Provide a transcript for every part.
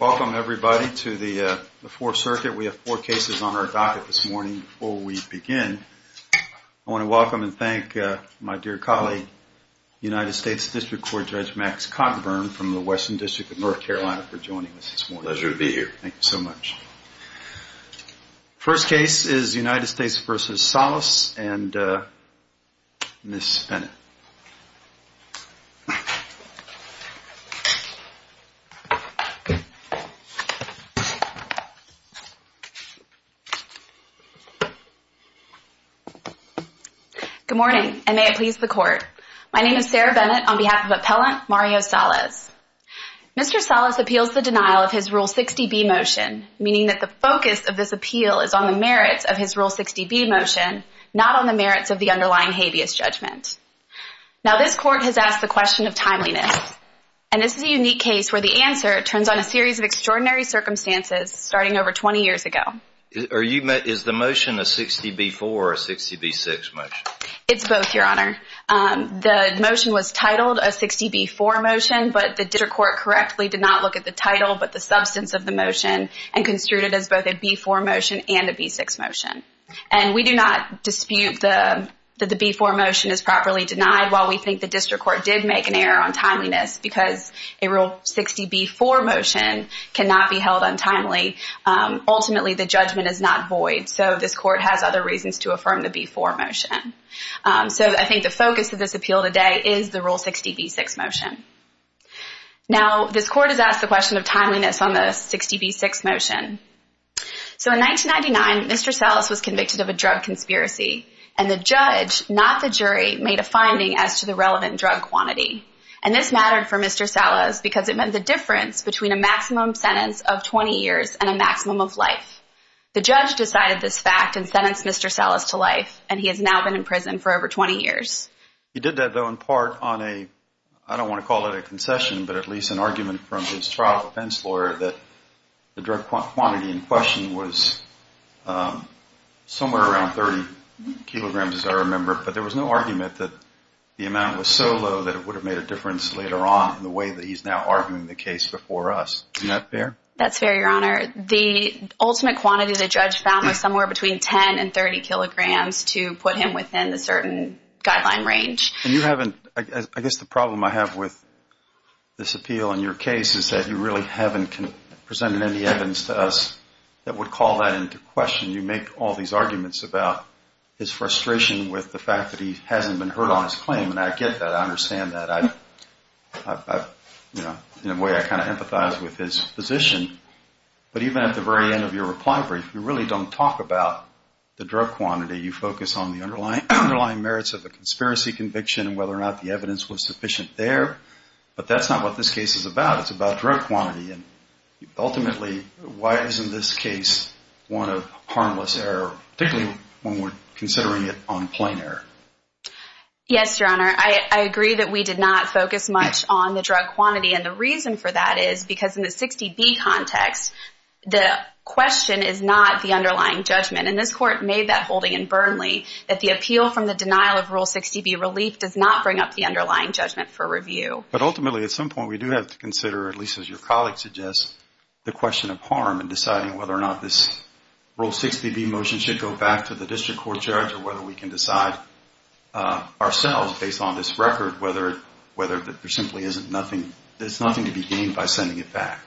Welcome, everybody, to the Fourth Circuit. We have four cases on our docket this morning. Before we begin, I want to welcome and thank my dear colleague, United States District Court Judge Max Cottonburn from the Western District of North Carolina for joining us this morning. Pleasure to be here. Thank you so much. First case is United States v. Salas and Ms. Bennett. Good morning, and may it please the Court. My name is Sarah Bennett on behalf of Appellant Mario Salas. Mr. Salas appeals the denial of his Rule 60b motion, meaning that the focus of this appeal is on the merits of his Rule 60b motion, not on the merits of the underlying habeas judgment. Now, this Court has asked the question of timeliness, and this is a unique case where the answer turns on a series of extraordinary circumstances starting over 20 years ago. Is the motion a 60b-4 or a 60b-6 motion? It's both, Your Honor. The motion was titled a 60b-4 motion, but the District Court correctly did not look at the title but the substance of the motion and construed it as both a b-4 motion and a b-6 motion. And we do not dispute that the b-4 motion is properly denied while we think the District Court did make an error on timeliness because a Rule 60b-4 motion cannot be held untimely. Ultimately, the judgment is not void, so this Court has other reasons to affirm the b-4 motion. So I think the focus of this appeal today is the Rule 60b-6 motion. Now, this Court has asked the question of timeliness on the 60b-6 motion. So in 1999, Mr. Salas was convicted of a drug conspiracy, and the judge, not the jury, made a finding as to the relevant drug quantity. And this mattered for Mr. Salas because it meant the difference between a maximum sentence of 20 years and a maximum of life. The judge decided this fact and sentenced Mr. Salas to life, and he has now been in prison for over 20 years. He did that, though, in part on a, I don't want to call it a concession, but at least an argument from his trial defense lawyer that the drug quantity in question was somewhere around 30 kilograms, as I remember. But there was no argument that the amount was so low that it would have made a difference later on in the way that he's now arguing the case before us. Isn't that fair? That's fair, Your Honor. The ultimate quantity the judge found was somewhere between 10 and 30 kilograms to put him within a certain guideline range. And you haven't, I guess the problem I have with this appeal in your case is that you really haven't presented any evidence to us that would call that into question. You make all these arguments about his frustration with the fact that he hasn't been heard on his claim, and I get that. I understand that. In a way, I kind of empathize with his position. But even at the very end of your reply brief, you really don't talk about the drug quantity. You focus on the underlying merits of the conspiracy conviction and whether or not the evidence was sufficient there. But that's not what this case is about. It's about drug quantity. And ultimately, why isn't this case one of harmless error, particularly when we're considering it on plain error? Yes, Your Honor. I agree that we did not focus much on the drug quantity. And the reason for that is because in the 60B context, the question is not the underlying judgment. And this Court made that holding in Burnley that the appeal from the denial of Rule 60B relief does not bring up the underlying judgment for review. But ultimately, at some point, we do have to consider, at least as your colleague suggests, the question of harm in deciding whether or not this Rule 60B motion should go back to the district court judge or whether we can decide ourselves, based on this record, whether there simply is nothing to be gained by sending it back.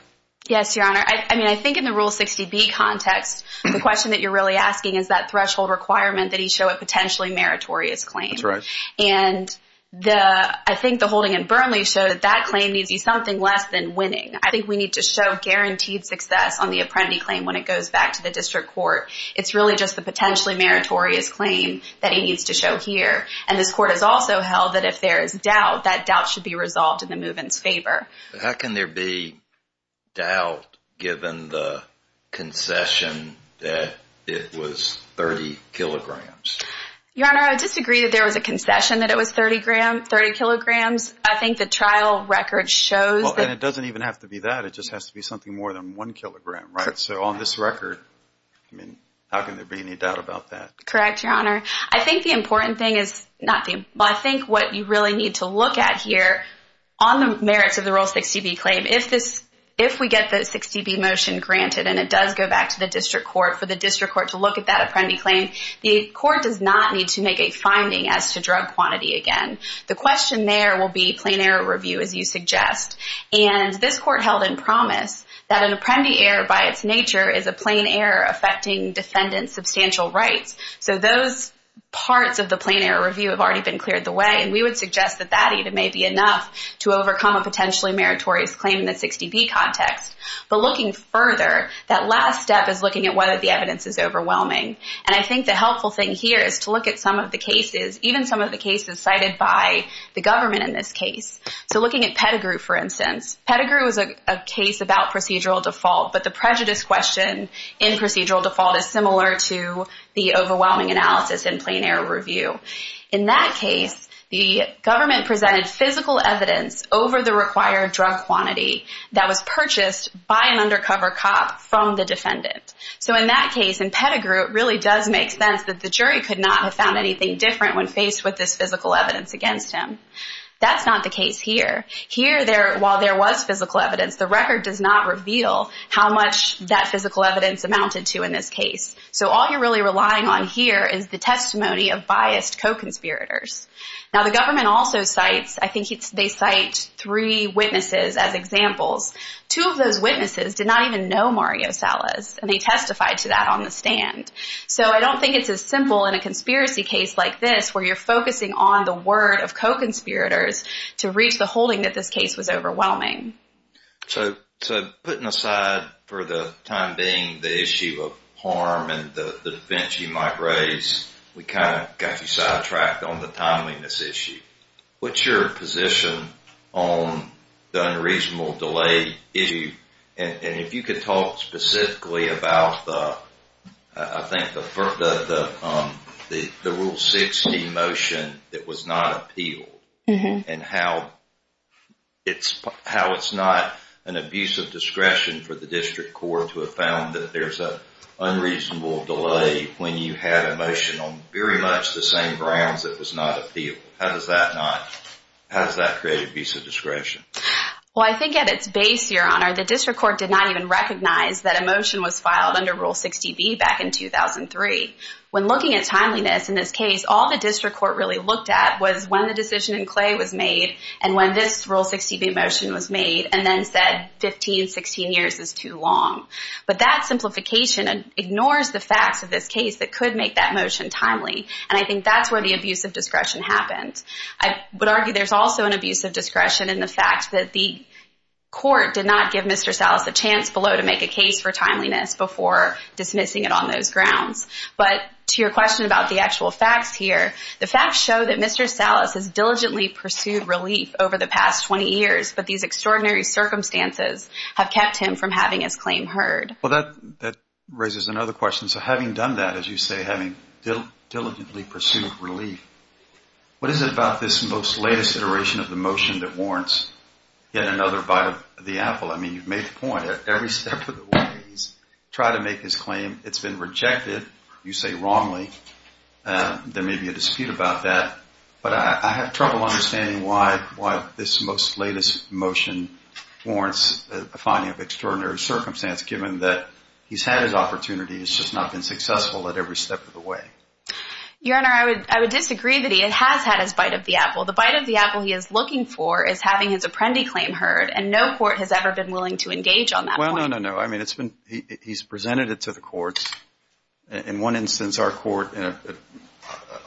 Yes, Your Honor. I mean, I think in the Rule 60B context, the question that you're really asking is that threshold requirement that he show a potentially meritorious claim. That's right. And I think the holding in Burnley showed that that claim needs to be something less than winning. I think we need to show guaranteed success on the Apprendi claim when it goes back to the district court. It's really just the potentially meritorious claim that he needs to show here. And this Court has also held that if there is doubt, that doubt should be resolved in the movement's favor. How can there be doubt given the concession that it was 30 kilograms? Your Honor, I would disagree that there was a concession that it was 30 kilograms. I think the trial record shows that. And it doesn't even have to be that. It just has to be something more than one kilogram, right? So on this record, I mean, how can there be any doubt about that? Correct, Your Honor. I think the important thing is not the – well, I think what you really need to look at here on the merits of the Rule 60B claim, if we get the 60B motion granted and it does go back to the district court, for the district court to look at that Apprendi claim, the court does not need to make a finding as to drug quantity again. The question there will be plain error review, as you suggest. And this Court held in promise that an Apprendi error by its nature is a plain error affecting defendant's substantial rights. So those parts of the plain error review have already been cleared the way, and we would suggest that that even may be enough to overcome a potentially meritorious claim in the 60B context. But looking further, that last step is looking at whether the evidence is overwhelming. And I think the helpful thing here is to look at some of the cases, even some of the cases cited by the government in this case. So looking at Pettigrew, for instance, Pettigrew is a case about procedural default, but the prejudice question in procedural default is similar to the overwhelming analysis in plain error review. In that case, the government presented physical evidence over the required drug quantity that was purchased by an undercover cop from the defendant. So in that case, in Pettigrew, it really does make sense that the jury could not have found anything different when faced with this physical evidence against him. That's not the case here. Here, while there was physical evidence, the record does not reveal how much that physical evidence amounted to in this case. So all you're really relying on here is the testimony of biased co-conspirators. Now, the government also cites, I think they cite three witnesses as examples. Two of those witnesses did not even know Mario Salas, and they testified to that on the stand. So I don't think it's as simple in a conspiracy case like this where you're focusing on the word of co-conspirators to reach the holding that this case was overwhelming. So putting aside for the time being the issue of harm and the defense you might raise, we kind of got you sidetracked on the timeliness issue. What's your position on the unreasonable delay issue? And if you could talk specifically about, I think, the Rule 60 motion that was not appealed and how it's not an abuse of discretion for the district court to have found that there's an unreasonable delay when you had a motion on very much the same grounds that was not appealed. How does that create abuse of discretion? Well, I think at its base, Your Honor, the district court did not even recognize that a motion was filed under Rule 60B back in 2003. When looking at timeliness in this case, all the district court really looked at was when the decision in Clay was made and when this Rule 60B motion was made and then said 15, 16 years is too long. But that simplification ignores the facts of this case that could make that motion timely. And I think that's where the abuse of discretion happens. I would argue there's also an abuse of discretion in the fact that the court did not give Mr. Salas a chance below to make a case for timeliness before dismissing it on those grounds. But to your question about the actual facts here, the facts show that Mr. Salas has diligently pursued relief over the past 20 years, but these extraordinary circumstances have kept him from having his claim heard. Well, that raises another question. So having done that, as you say, having diligently pursued relief, what is it about this most latest iteration of the motion that warrants yet another bite of the apple? I mean, you've made the point that every step of the way he's tried to make his claim, it's been rejected. You say wrongly. There may be a dispute about that. But I have trouble understanding why this most latest motion warrants a finding of extraordinary circumstance given that he's had his opportunity, he's just not been successful at every step of the way. Your Honor, I would disagree that he has had his bite of the apple. The bite of the apple he is looking for is having his apprendee claim heard, and no court has ever been willing to engage on that point. Well, no, no, no. I mean, he's presented it to the courts. In one instance, our court,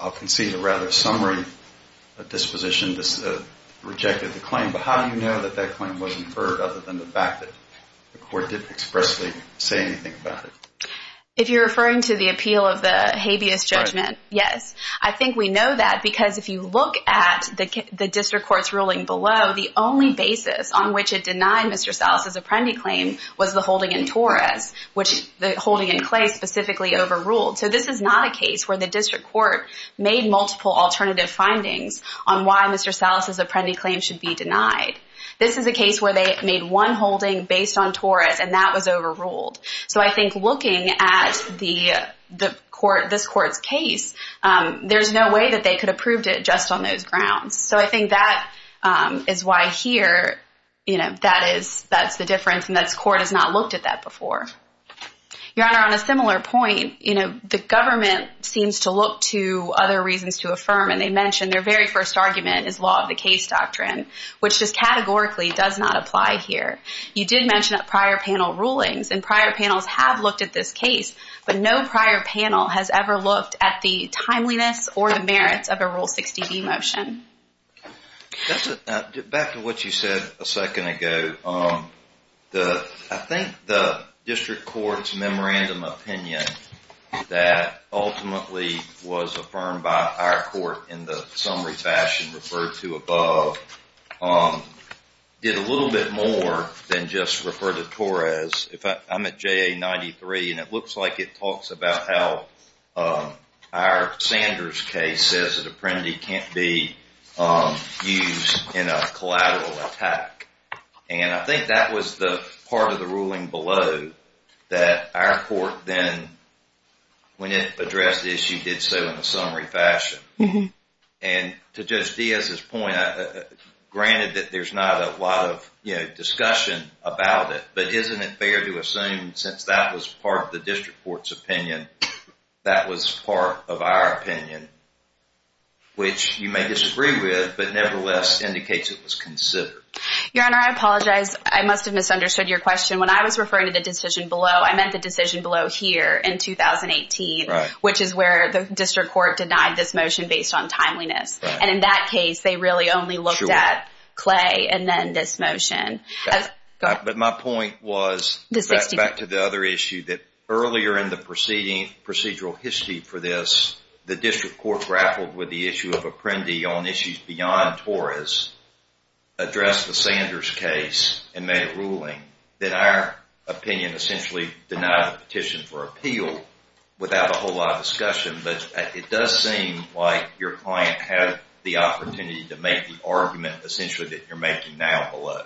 I'll concede a rather summary disposition, rejected the claim. But how do you know that that claim wasn't heard other than the fact that the court didn't expressly say anything about it? If you're referring to the appeal of the habeas judgment, yes. I think we know that because if you look at the district court's ruling below, the only basis on which it denied Mr. Salas' apprendee claim was the holding in Torres, which the holding in Clay specifically overruled. So this is not a case where the district court made multiple alternative findings on why Mr. Salas' apprendee claim should be denied. This is a case where they made one holding based on Torres, and that was overruled. So I think looking at this court's case, there's no way that they could have proved it just on those grounds. So I think that is why here that's the difference, and this court has not looked at that before. Your Honor, on a similar point, the government seems to look to other reasons to affirm, and they mention their very first argument is law of the case doctrine, which just categorically does not apply here. You did mention prior panel rulings, and prior panels have looked at this case, but no prior panel has ever looked at the timeliness or the merits of a Rule 60b motion. Back to what you said a second ago, I think the district court's memorandum opinion that ultimately was affirmed by our court in the summary fashion referred to above did a little bit more than just refer to Torres. I'm at JA 93, and it looks like it talks about how our Sanders case says that apprendee can't be used in a collateral attack, and I think that was the part of the ruling below that our court then, when it addressed the issue, did so in a summary fashion. And to Judge Diaz's point, granted that there's not a lot of discussion about it, but isn't it fair to assume since that was part of the district court's opinion, that was part of our opinion, which you may disagree with, but nevertheless indicates it was considered. Your Honor, I apologize. I must have misunderstood your question. When I was referring to the decision below, I meant the decision below here in 2018, which is where the district court denied this motion based on timeliness. And in that case, they really only looked at Clay and then this motion. But my point was, back to the other issue, that earlier in the procedural history for this, the district court grappled with the issue of apprendee on issues beyond Torres, addressed the Sanders case, and made a ruling, that our opinion essentially denied the petition for appeal without a whole lot of discussion. But it does seem like your client had the opportunity to make the argument, essentially, that you're making now below.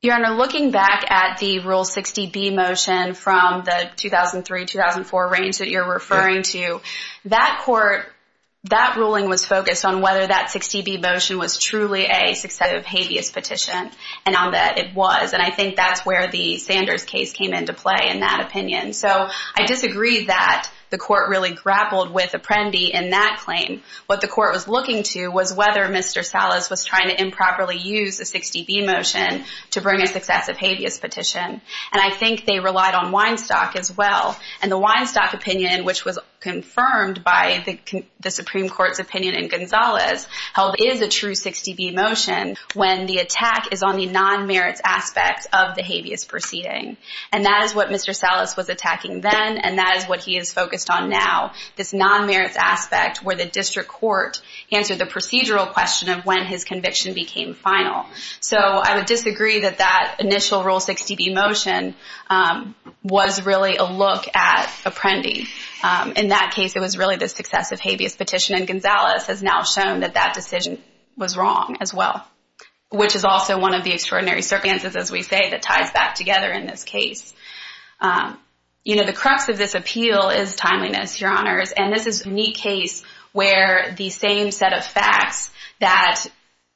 Your Honor, looking back at the Rule 60B motion from the 2003-2004 range that you're referring to, that court, that ruling was focused on whether that 60B motion was truly a successive habeas petition. And on that, it was. And I think that's where the Sanders case came into play in that opinion. So I disagree that the court really grappled with apprendee in that claim. What the court was looking to was whether Mr. Salas was trying to improperly use a 60B motion to bring a successive habeas petition. And I think they relied on Weinstock as well. And the Weinstock opinion, which was confirmed by the Supreme Court's opinion in Gonzalez, held it is a true 60B motion when the attack is on the non-merits aspect of the habeas proceeding. And that is what Mr. Salas was attacking then, and that is what he is focused on now, this non-merits aspect where the district court answered the procedural question of when his conviction became final. So I would disagree that that initial Rule 60B motion was really a look at apprendee. In that case, it was really the successive habeas petition, and Gonzalez has now shown that that decision was wrong as well, which is also one of the extraordinary circumstances, as we say, that ties back together in this case. You know, the crux of this appeal is timeliness, Your Honors, and this is a unique case where the same set of facts that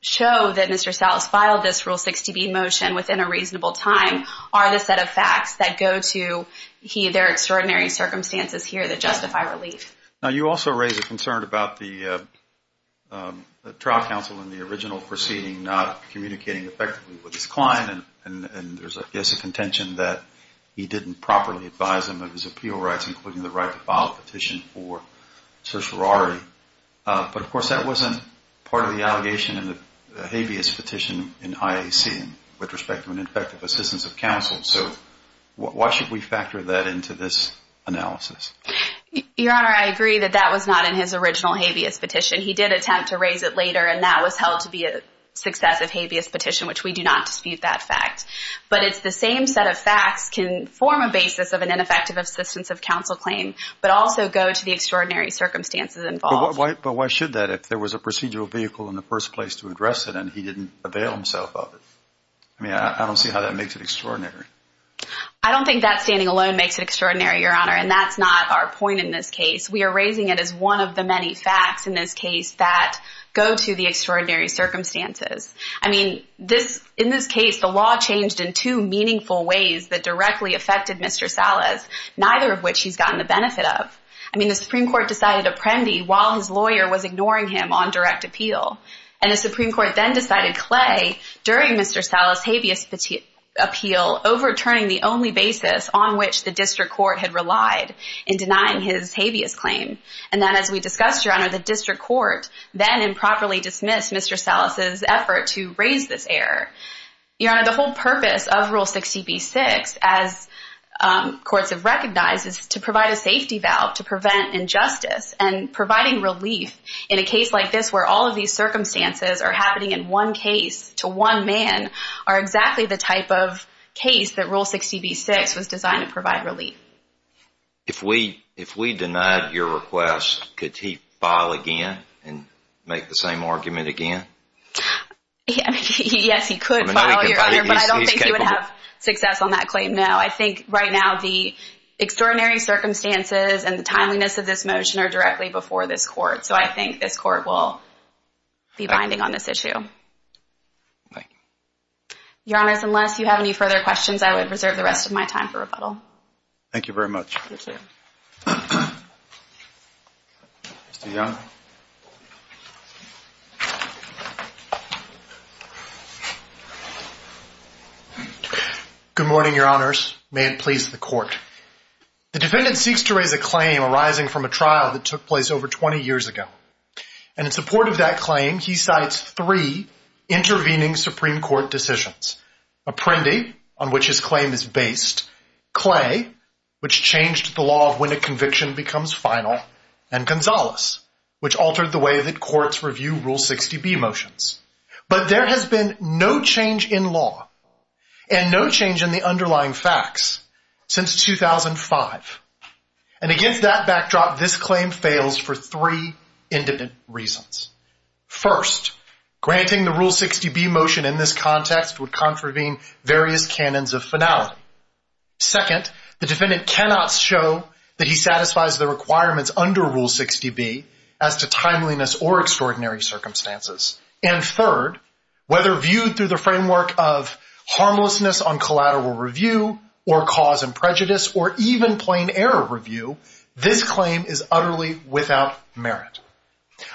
show that Mr. Salas filed this Rule 60B motion within a reasonable time are the set of facts that go to their extraordinary circumstances here that justify relief. Now, you also raise a concern about the trial counsel in the original proceeding not communicating effectively with his client, and there's, I guess, a contention that he didn't properly advise him of his appeal rights, including the right to file a petition for sorority. But, of course, that wasn't part of the allegation in the habeas petition in IAC, with respect to an ineffective assistance of counsel. So why should we factor that into this analysis? Your Honor, I agree that that was not in his original habeas petition. He did attempt to raise it later, and that was held to be a successive habeas petition, which we do not dispute that fact. But it's the same set of facts can form a basis of an ineffective assistance of counsel claim, but also go to the extraordinary circumstances involved. But why should that if there was a procedural vehicle in the first place to address it and he didn't avail himself of it? I mean, I don't see how that makes it extraordinary. I don't think that standing alone makes it extraordinary, Your Honor, and that's not our point in this case. We are raising it as one of the many facts in this case that go to the extraordinary circumstances. I mean, in this case, the law changed in two meaningful ways that directly affected Mr. Salas, neither of which he's gotten the benefit of. I mean, the Supreme Court decided Apprendi while his lawyer was ignoring him on direct appeal. And the Supreme Court then decided Clay during Mr. Salas' habeas appeal, overturning the only basis on which the district court had relied in denying his habeas claim. And then as we discussed, Your Honor, the district court then improperly dismissed Mr. Salas' effort to raise this error. Your Honor, the whole purpose of Rule 60B-6, as courts have recognized, is to provide a safety valve to prevent injustice. And providing relief in a case like this where all of these circumstances are happening in one case to one man are exactly the type of case that Rule 60B-6 was designed to provide relief. If we denied your request, could he file again and make the same argument again? Yes, he could, Your Honor, but I don't think he would have success on that claim, no. I think right now the extraordinary circumstances and the timeliness of this motion are directly before this court. So I think this court will be binding on this issue. Thank you. Your Honors, unless you have any further questions, I would reserve the rest of my time for rebuttal. Thank you very much. Good morning, Your Honors. May it please the Court. The defendant seeks to raise a claim arising from a trial that took place over 20 years ago. And in support of that claim, he cites three intervening Supreme Court decisions. Apprendi, on which his claim is based, Clay, which changed the law of when a conviction becomes final, and Gonzales, which altered the way that courts review Rule 60B motions. But there has been no change in law and no change in the underlying facts since 2005. And against that backdrop, this claim fails for three independent reasons. First, granting the Rule 60B motion in this context would contravene various canons of finality. Second, the defendant cannot show that he satisfies the requirements under Rule 60B as to timeliness or extraordinary circumstances. And third, whether viewed through the framework of harmlessness on collateral review or cause and prejudice or even plain error review, this claim is utterly without merit.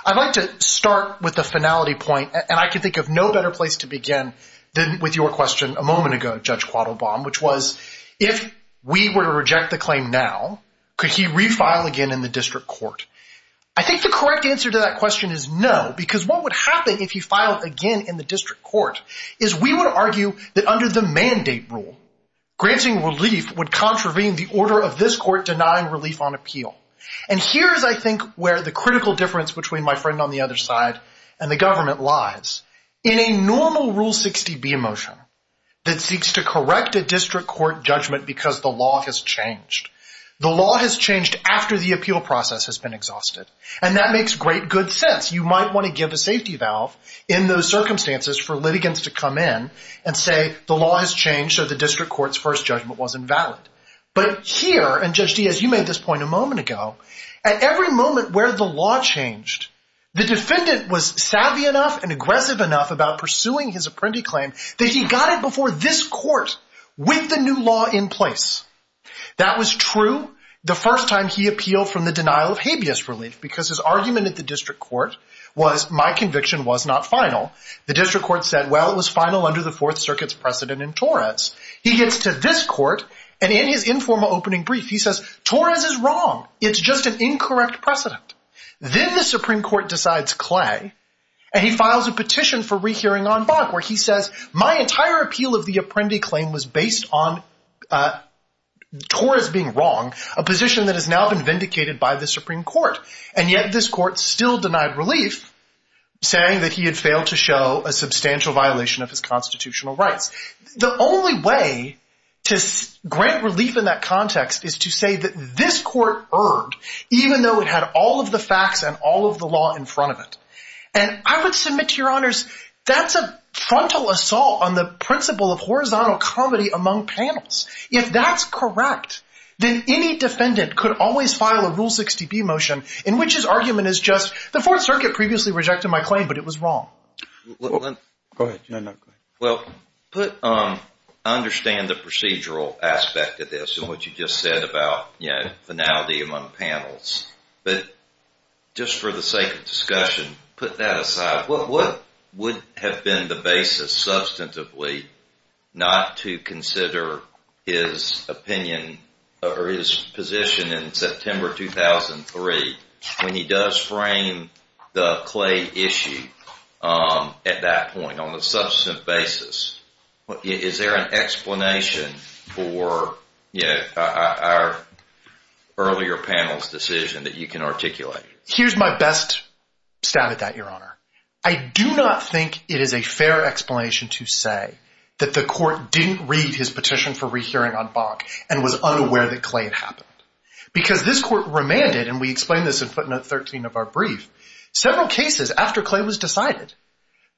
I'd like to start with the finality point, and I can think of no better place to begin than with your question a moment ago, Judge Quattlebaum, which was, if we were to reject the claim now, could he refile again in the district court? I think the correct answer to that question is no, because what would happen if he filed again in the district court is we would argue that under the mandate rule, granting relief would contravene the order of this court denying relief on appeal. And here is, I think, where the critical difference between my friend on the other side and the government lies. In a normal Rule 60B motion that seeks to correct a district court judgment because the law has changed, the law has changed after the appeal process has been exhausted, and that makes great good sense. You might want to give a safety valve in those circumstances for litigants to come in and say the law has changed, so the district court's first judgment wasn't valid. But here, and Judge Diaz, you made this point a moment ago, at every moment where the law changed, the defendant was savvy enough and aggressive enough about pursuing his apprentice claim that he got it before this court with the new law in place. That was true the first time he appealed from the denial of habeas relief, because his argument at the district court was my conviction was not final. The district court said, well, it was final under the Fourth Circuit's precedent in Torres. He gets to this court, and in his informal opening brief, he says Torres is wrong. It's just an incorrect precedent. Then the Supreme Court decides Clay, and he files a petition for rehearing en banc where he says my entire appeal of the apprendi claim was based on Torres being wrong, a position that has now been vindicated by the Supreme Court. And yet this court still denied relief, saying that he had failed to show a substantial violation of his constitutional rights. The only way to grant relief in that context is to say that this court erred, even though it had all of the facts and all of the law in front of it. And I would submit to your honors that's a frontal assault on the principle of horizontal comedy among panels. If that's correct, then any defendant could always file a Rule 60B motion in which his argument is just the Fourth Circuit previously rejected my claim, but it was wrong. Go ahead. Well, I understand the procedural aspect of this and what you just said about finality among panels. But just for the sake of discussion, put that aside. What would have been the basis substantively not to consider his opinion or his position in September 2003 when he does frame the Clay issue at that point on a substantive basis? Is there an explanation for our earlier panel's decision that you can articulate? Here's my best stat at that, your honor. I do not think it is a fair explanation to say that the court didn't read his petition for rehearing on Bach and was unaware that Clay had happened. Because this court remanded, and we explained this in footnote 13 of our brief, several cases after Clay was decided,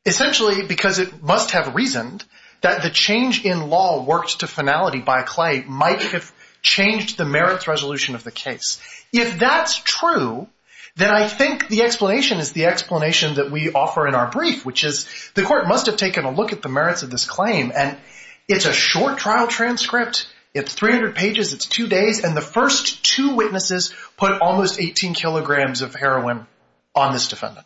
essentially because it must have reasoned that the change in law worked to finality by Clay might have changed the merits resolution of the case. If that's true, then I think the explanation is the explanation that we offer in our brief, which is the court must have taken a look at the merits of this claim. And it's a short trial transcript. It's 300 pages. It's two days. And the first two witnesses put almost 18 kilograms of heroin on this defendant.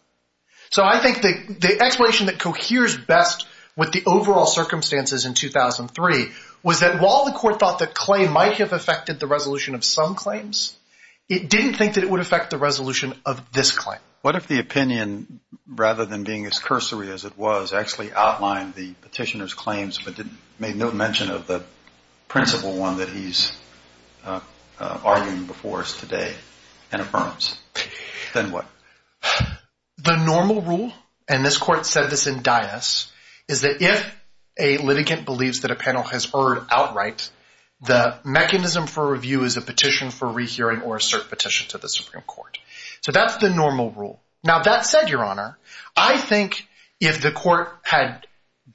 So I think the explanation that coheres best with the overall circumstances in 2003 was that while the court thought that Clay might have affected the resolution of some claims, it didn't think that it would affect the resolution of this claim. What if the opinion, rather than being as cursory as it was, actually outlined the petitioner's claims but made no mention of the principal one that he's arguing before us today and affirms? Then what? The normal rule, and this court said this in dais, is that if a litigant believes that a panel has erred outright, the mechanism for review is a petition for rehearing or a cert petition to the Supreme Court. So that's the normal rule. Now, that said, Your Honor, I think if the court had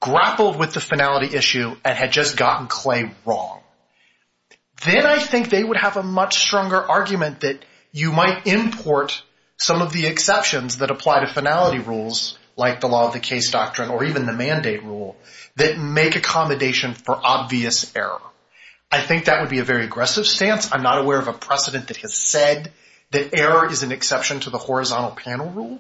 grappled with the finality issue and had just gotten Clay wrong, then I think they would have a much stronger argument that you might import some of the exceptions that apply to finality rules, like the law of the case doctrine or even the mandate rule, that make accommodation for obvious error. I think that would be a very aggressive stance. I'm not aware of a precedent that has said that error is an exception to the horizontal panel rule,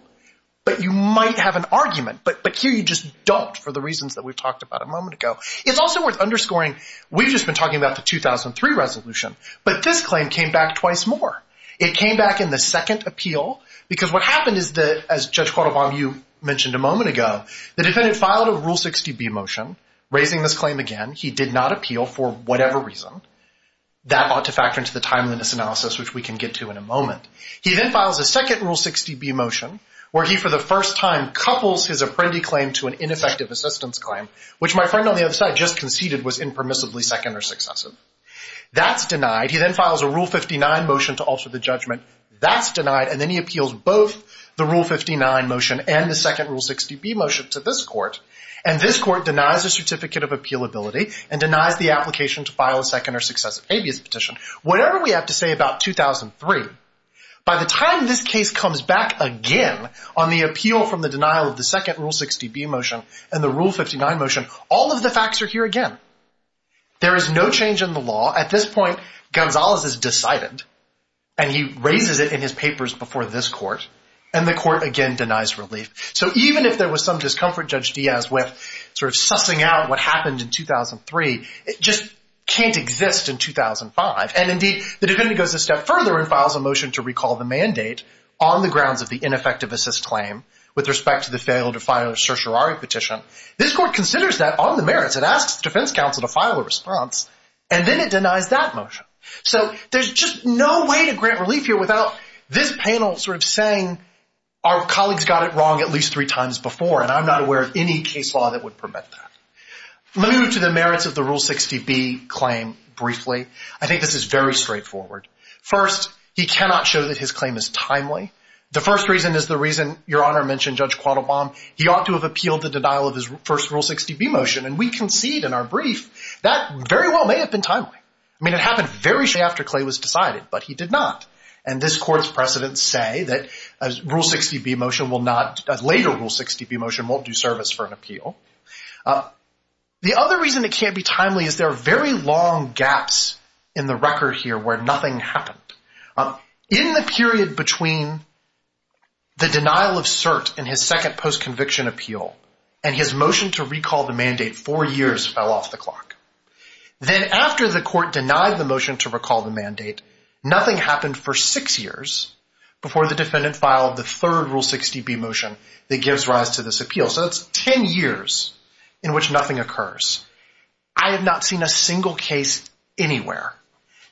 but you might have an argument. But here you just don't for the reasons that we've talked about a moment ago. It's also worth underscoring we've just been talking about the 2003 resolution, but this claim came back twice more. It came back in the second appeal because what happened is that, as Judge Cordova, you mentioned a moment ago, the defendant filed a Rule 60b motion raising this claim again. He did not appeal for whatever reason. That ought to factor into the timeliness analysis, which we can get to in a moment. He then files a second Rule 60b motion where he, for the first time, couples his apprendi claim to an ineffective assistance claim, which my friend on the other side just conceded was impermissibly second or successive. That's denied. He then files a Rule 59 motion to alter the judgment. That's denied. And then he appeals both the Rule 59 motion and the second Rule 60b motion to this court, and this court denies the certificate of appealability and denies the application to file a second or successive habeas petition. Whatever we have to say about 2003, by the time this case comes back again on the appeal from the denial of the second Rule 60b motion and the Rule 59 motion, all of the facts are here again. There is no change in the law. At this point, Gonzalez is decided, and he raises it in his papers before this court, and the court again denies relief. So even if there was some discomfort Judge Diaz with sort of sussing out what happened in 2003, it just can't exist in 2005. And indeed, the defendant goes a step further and files a motion to recall the mandate on the grounds of the ineffective assist claim with respect to the failure to file a certiorari petition. This court considers that on the merits. It asks the defense counsel to file a response, and then it denies that motion. So there's just no way to grant relief here without this panel sort of saying, our colleagues got it wrong at least three times before, and I'm not aware of any case law that would permit that. Let me move to the merits of the Rule 60b claim briefly. I think this is very straightforward. First, he cannot show that his claim is timely. The first reason is the reason Your Honor mentioned Judge Quattlebaum. He ought to have appealed the denial of his first Rule 60b motion, and we concede in our brief that very well may have been timely. I mean, it happened very shortly after Clay was decided, but he did not. And this court's precedents say that a later Rule 60b motion won't do service for an appeal. The other reason it can't be timely is there are very long gaps in the record here where nothing happened. In the period between the denial of cert in his second post-conviction appeal and his motion to recall the mandate, four years fell off the clock. Nothing happened for six years before the defendant filed the third Rule 60b motion that gives rise to this appeal. So it's ten years in which nothing occurs. I have not seen a single case anywhere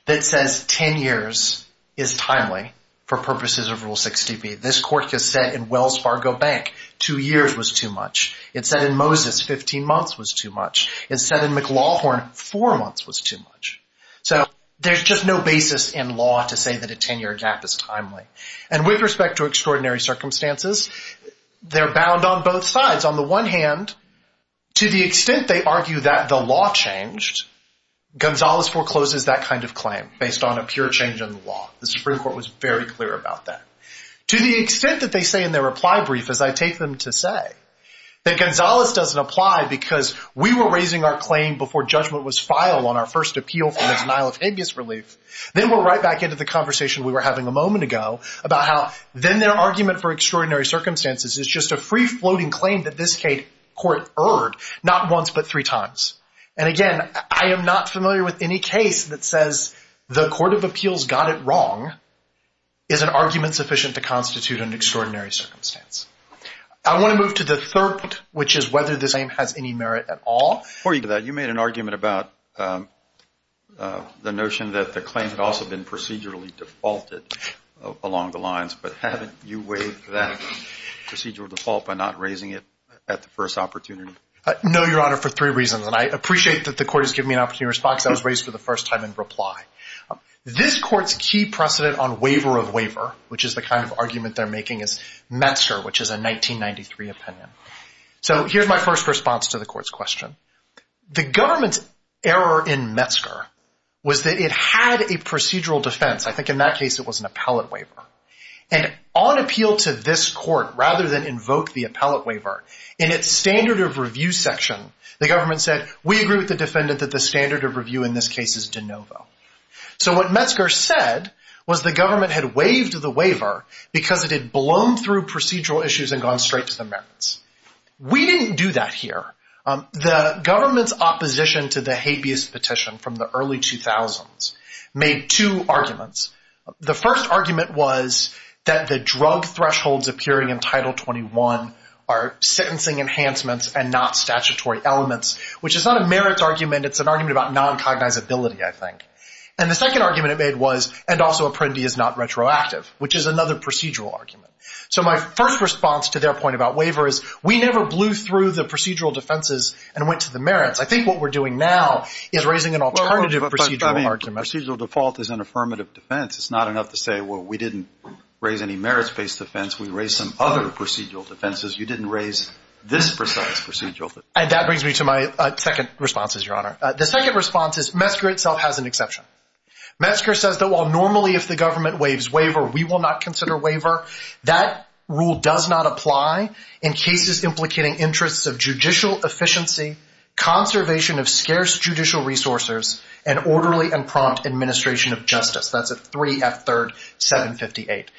that says ten years is timely for purposes of Rule 60b. This court has said in Wells Fargo Bank two years was too much. It said in Moses 15 months was too much. It said in McLawhorn four months was too much. So there's just no basis in law to say that a ten-year gap is timely. And with respect to extraordinary circumstances, they're bound on both sides. On the one hand, to the extent they argue that the law changed, Gonzalez forecloses that kind of claim based on a pure change in the law. The Supreme Court was very clear about that. To the extent that they say in their reply brief, as I take them to say, that Gonzalez doesn't apply because we were raising our claim before judgment was filed on our first appeal for the denial of habeas relief, then we're right back into the conversation we were having a moment ago about how then their argument for extraordinary circumstances is just a free-floating claim that this court erred not once but three times. And again, I am not familiar with any case that says the court of appeals got it wrong is an argument sufficient to constitute an extraordinary circumstance. I want to move to the third point, which is whether this aim has any merit at all. Before you do that, you made an argument about the notion that the claim had also been procedurally defaulted along the lines. But haven't you waived that procedural default by not raising it at the first opportunity? No, Your Honor, for three reasons. And I appreciate that the court has given me an opportunity to respond because I was raised for the first time in reply. This court's key precedent on waiver of waiver, which is the kind of argument they're making, is Metzer, which is a 1993 opinion. So here's my first response to the court's question. The government's error in Metzer was that it had a procedural defense. I think in that case it was an appellate waiver. And on appeal to this court, rather than invoke the appellate waiver, in its standard of review section, the government said, we agree with the defendant that the standard of review in this case is de novo. because it had blown through procedural issues and gone straight to the merits. We didn't do that here. The government's opposition to the habeas petition from the early 2000s made two arguments. The first argument was that the drug thresholds appearing in Title 21 are sentencing enhancements and not statutory elements, which is not a merits argument. It's an argument about noncognizability, I think. And the second argument it made was, and also Apprendi is not retroactive, which is another procedural argument. So my first response to their point about waiver is, we never blew through the procedural defenses and went to the merits. I think what we're doing now is raising an alternative procedural argument. But procedural default is an affirmative defense. It's not enough to say, well, we didn't raise any merits-based defense. We raised some other procedural defenses. You didn't raise this precise procedural defense. And that brings me to my second response, Your Honor. The second response is Metzger itself has an exception. Metzger says that while normally if the government waives waiver, we will not consider waiver. That rule does not apply in cases implicating interests of judicial efficiency, conservation of scarce judicial resources, and orderly and prompt administration of justice. That's at 3F3rd 758.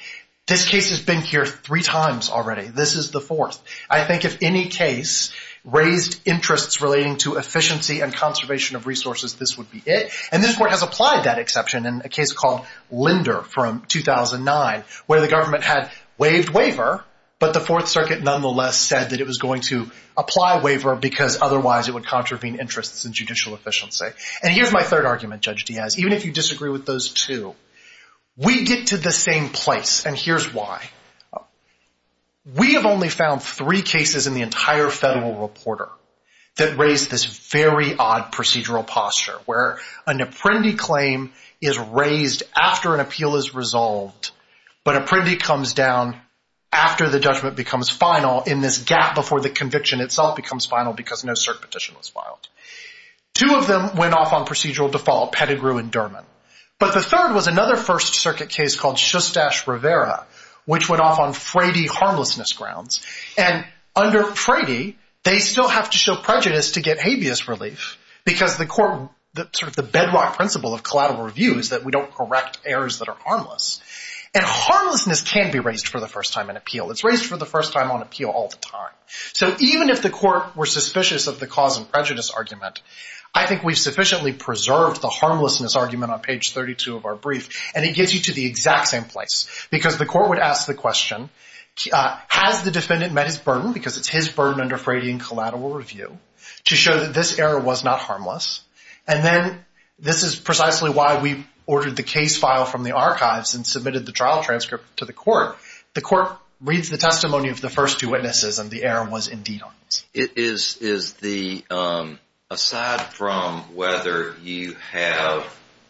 This case has been here three times already. This is the fourth. I think if any case raised interests relating to efficiency and conservation of resources, this would be it. And this Court has applied that exception in a case called Linder from 2009 where the government had waived waiver, but the Fourth Circuit nonetheless said that it was going to apply waiver because otherwise it would contravene interests in judicial efficiency. And here's my third argument, Judge Diaz. Even if you disagree with those two, we get to the same place, and here's why. We have only found three cases in the entire federal reporter that raised this very odd procedural posture where an apprendi claim is raised after an appeal is resolved, but apprendi comes down after the judgment becomes final in this gap before the conviction itself becomes final because no cert petition was filed. Two of them went off on procedural default, Pettigrew and Derman. But the third was another First Circuit case called Shostash Rivera which went off on Frady harmlessness grounds. And under Frady, they still have to show prejudice to get habeas relief because the court, sort of the bedrock principle of collateral review is that we don't correct errors that are harmless. And harmlessness can be raised for the first time in appeal. It's raised for the first time on appeal all the time. So even if the court were suspicious of the cause and prejudice argument, I think we've sufficiently preserved the harmlessness argument on page 32 of our brief, and it gets you to the exact same place because the court would ask the question, has the defendant met his burden because it's his burden under Frady in collateral review to show that this error was not harmless? And then this is precisely why we ordered the case file from the archives and submitted the trial transcript to the court. The court reads the testimony of the first two witnesses and the error was indeed harmless. Is the aside from whether you have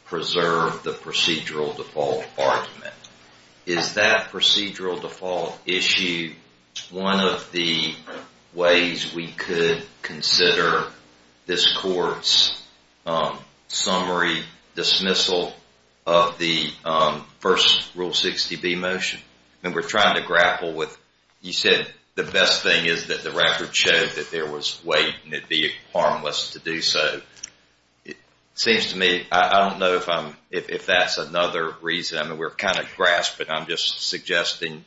preserved the procedural default argument, is that procedural default issue one of the ways we could consider this court's summary dismissal of the first Rule 60B motion? And we're trying to grapple with, you said the best thing is that the record showed that there was weight and it'd be harmless to do so. It seems to me, I don't know if that's another reason. I mean, we're kind of grasping. I'm just suggesting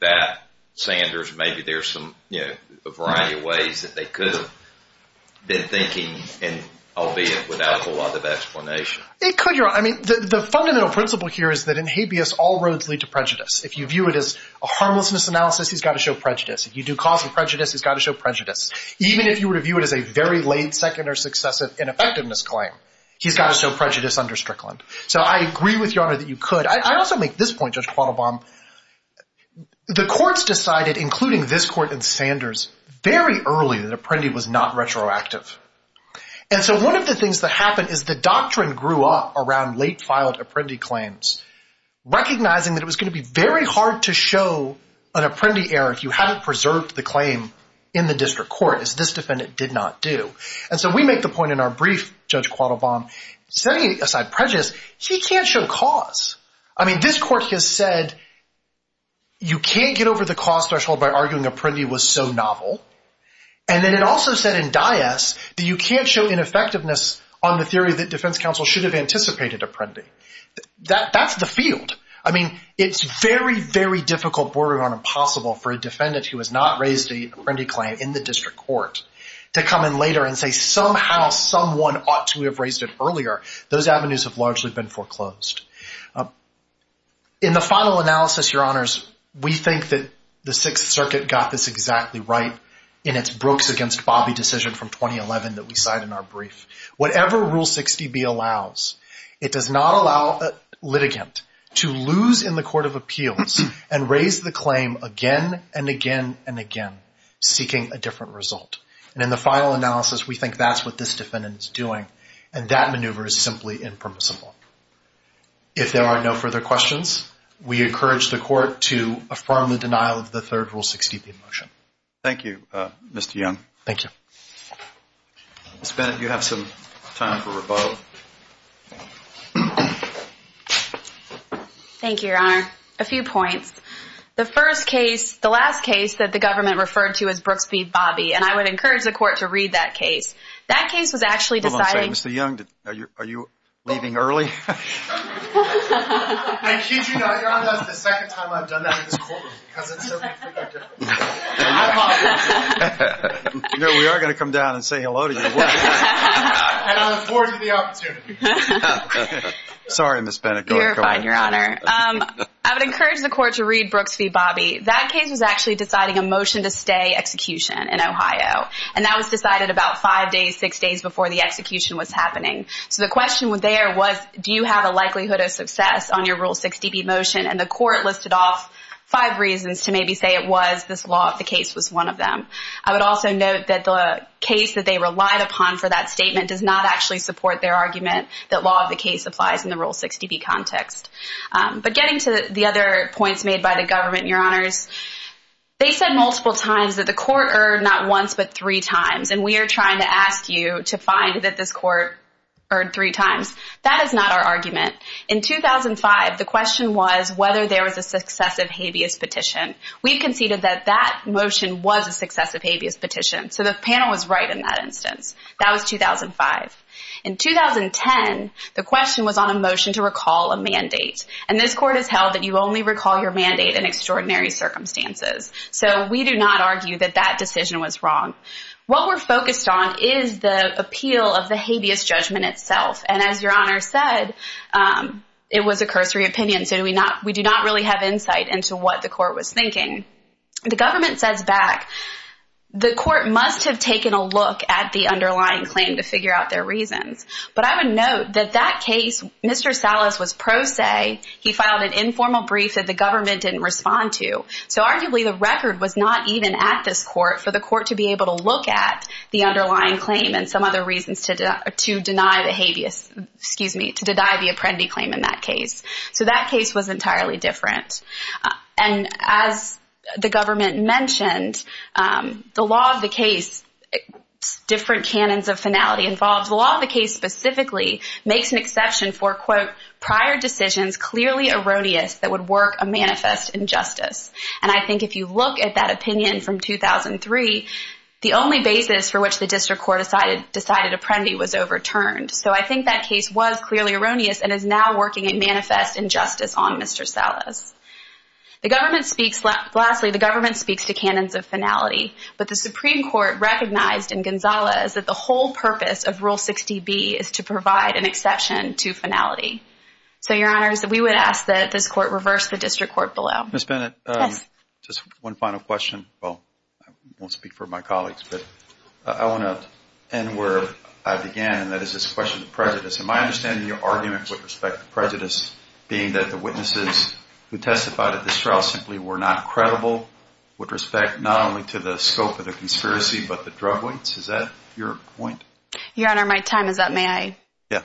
that, Sanders, maybe there's a variety of ways that they could have been thinking, albeit without a whole lot of explanation. It could, Your Honor. I mean, the fundamental principle here is that in habeas, all roads lead to prejudice. If you view it as a harmlessness analysis, he's got to show prejudice. If you do causal prejudice, he's got to show prejudice. Even if you were to view it as a very late, second, or successive ineffectiveness claim, he's got to show prejudice under Strickland. So I agree with you, Your Honor, that you could. I also make this point, Judge Quattlebaum. The courts decided, including this court and Sanders, very early that Apprendi was not retroactive. And so one of the things that happened is the doctrine grew up around late filed Apprendi claims, recognizing that it was going to be very hard to show an Apprendi error if you hadn't preserved the claim in the district court, as this defendant did not do. And so we make the point in our brief, Judge Quattlebaum, setting aside prejudice, he can't show cause. I mean, this court has said you can't get over the cause threshold by arguing Apprendi was so novel. And then it also said in Dyess that you can't show ineffectiveness on the theory that defense counsel should have anticipated Apprendi. That's the field. I mean, it's very, very difficult, borderline impossible, for a defendant who has not raised an Apprendi claim in the district court to come in later and say somehow someone ought to have raised it earlier. Those avenues have largely been foreclosed. In the final analysis, Your Honors, we think that the Sixth Circuit got this exactly right in its Brooks against Bobby decision from 2011 that we cite in our brief. Whatever Rule 60B allows, it does not allow a litigant to lose in the court of appeals and raise the claim again and again and again, seeking a different result. And in the final analysis, we think that's what this defendant is doing, and that maneuver is simply impermissible. If there are no further questions, we encourage the court to affirm the denial of the third Rule 60B motion. Thank you, Mr. Young. Thank you. Ms. Bennett, you have some time for rebuttal. Thank you, Your Honor. A few points. The first case, the last case that the government referred to as Brooks v. Bobby, and I would encourage the court to read that case. That case was actually deciding— Hold on a second. Mr. Young, are you leaving early? Excuse you, Your Honor. That's the second time I've done that in this courtroom because it's so complicated. I apologize. No, we are going to come down and say hello to you. And I'll afford you the opportunity. Sorry, Ms. Bennett. I'm terrified, Your Honor. I would encourage the court to read Brooks v. Bobby. That case was actually deciding a motion to stay execution in Ohio, and that was decided about five days, six days before the execution was happening. So the question there was do you have a likelihood of success on your Rule 60B motion, and the court listed off five reasons to maybe say it was this law of the case was one of them. I would also note that the case that they relied upon for that statement does not actually support their argument that law of the case applies in the Rule 60B context. But getting to the other points made by the government, Your Honors, they said multiple times that the court erred not once but three times, and we are trying to ask you to find that this court erred three times. That is not our argument. In 2005, the question was whether there was a successive habeas petition. We conceded that that motion was a successive habeas petition, so the panel was right in that instance. That was 2005. In 2010, the question was on a motion to recall a mandate, and this court has held that you only recall your mandate in extraordinary circumstances. So we do not argue that that decision was wrong. What we're focused on is the appeal of the habeas judgment itself, and as Your Honor said, it was a cursory opinion, so we do not really have insight into what the court was thinking. The government says back, the court must have taken a look at the underlying claim to figure out their reasons, but I would note that that case, Mr. Salas was pro se. He filed an informal brief that the government didn't respond to, so arguably the record was not even at this court for the court to be able to look at the underlying claim and some other reasons to deny the habeas, excuse me, to deny the Apprendi claim in that case. So that case was entirely different. And as the government mentioned, the law of the case, different canons of finality involved, the law of the case specifically makes an exception for, quote, prior decisions clearly erroneous that would work a manifest injustice. And I think if you look at that opinion from 2003, the only basis for which the district court decided Apprendi was overturned. So I think that case was clearly erroneous and is now working a manifest injustice on Mr. Salas. Lastly, the government speaks to canons of finality, but the Supreme Court recognized in Gonzales that the whole purpose of Rule 60B is to provide an exception to finality. So, Your Honors, we would ask that this court reverse the district court below. Ms. Bennett, just one final question. Well, I won't speak for my colleagues, but I want to end where I began, and that is this question of prejudice. And my understanding of your argument with respect to prejudice being that the witnesses who testified at this trial simply were not credible with respect not only to the scope of the conspiracy, but the drug weights. Is that your point? Your Honor, my time is up. May I? Yeah.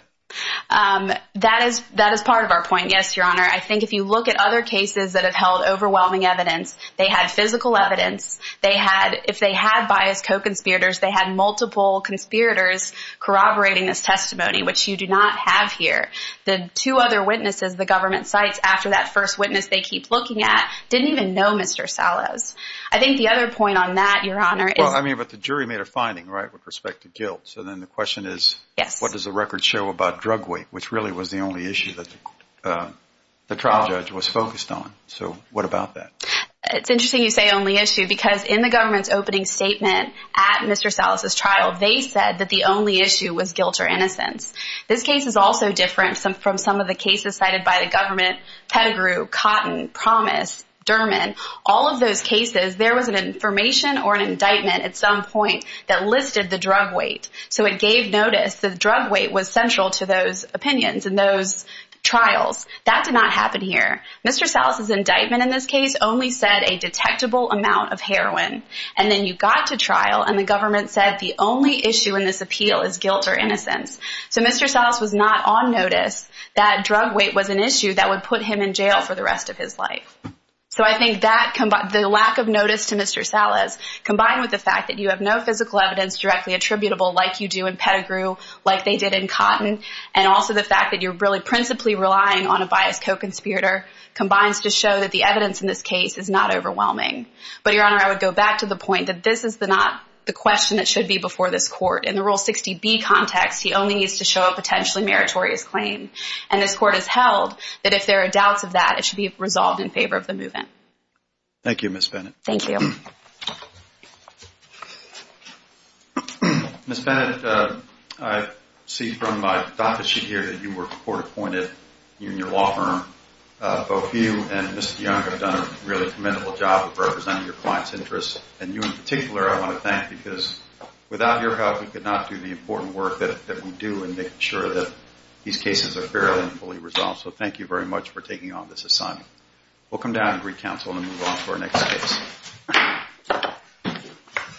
That is part of our point, yes, Your Honor. I think if you look at other cases that have held overwhelming evidence, they had physical evidence. If they had biased co-conspirators, they had multiple conspirators corroborating this testimony, which you do not have here. The two other witnesses the government cites after that first witness they keep looking at didn't even know Mr. Salas. I think the other point on that, Your Honor, is... Well, I mean, but the jury made a finding, right, with respect to guilt. So then the question is what does the record show about drug weight, which really was the only issue that the trial judge was focused on. So what about that? It's interesting you say only issue, because in the government's opening statement at Mr. Salas' trial, they said that the only issue was guilt or innocence. This case is also different from some of the cases cited by the government. Pettigrew, Cotton, Promise, Derman, all of those cases, there was an information or an indictment at some point that listed the drug weight. So it gave notice that drug weight was central to those opinions and those trials. That did not happen here. Mr. Salas' indictment in this case only said a detectable amount of heroin. And then you got to trial, and the government said the only issue in this appeal is guilt or innocence. So Mr. Salas was not on notice that drug weight was an issue that would put him in jail for the rest of his life. So I think the lack of notice to Mr. Salas, combined with the fact that you have no physical evidence directly attributable, like you do in Pettigrew, like they did in Cotton, and also the fact that you're really principally relying on a biased co-conspirator, combines to show that the evidence in this case is not overwhelming. But, Your Honor, I would go back to the point that this is not the question that should be before this Court. In the Rule 60B context, he only needs to show a potentially meritorious claim. And this Court has held that if there are doubts of that, it should be resolved in favor of the move-in. Thank you, Ms. Bennett. Thank you. Ms. Bennett, I see from my docket sheet here that you were court-appointed in your law firm. Both you and Mr. Young have done a really commendable job of representing your clients' interests, and you in particular I want to thank because without your help we could not do the important work that we do in making sure that these cases are fairly and fully resolved. So thank you very much for taking on this assignment. We'll come down and recounsel and move on to our next case.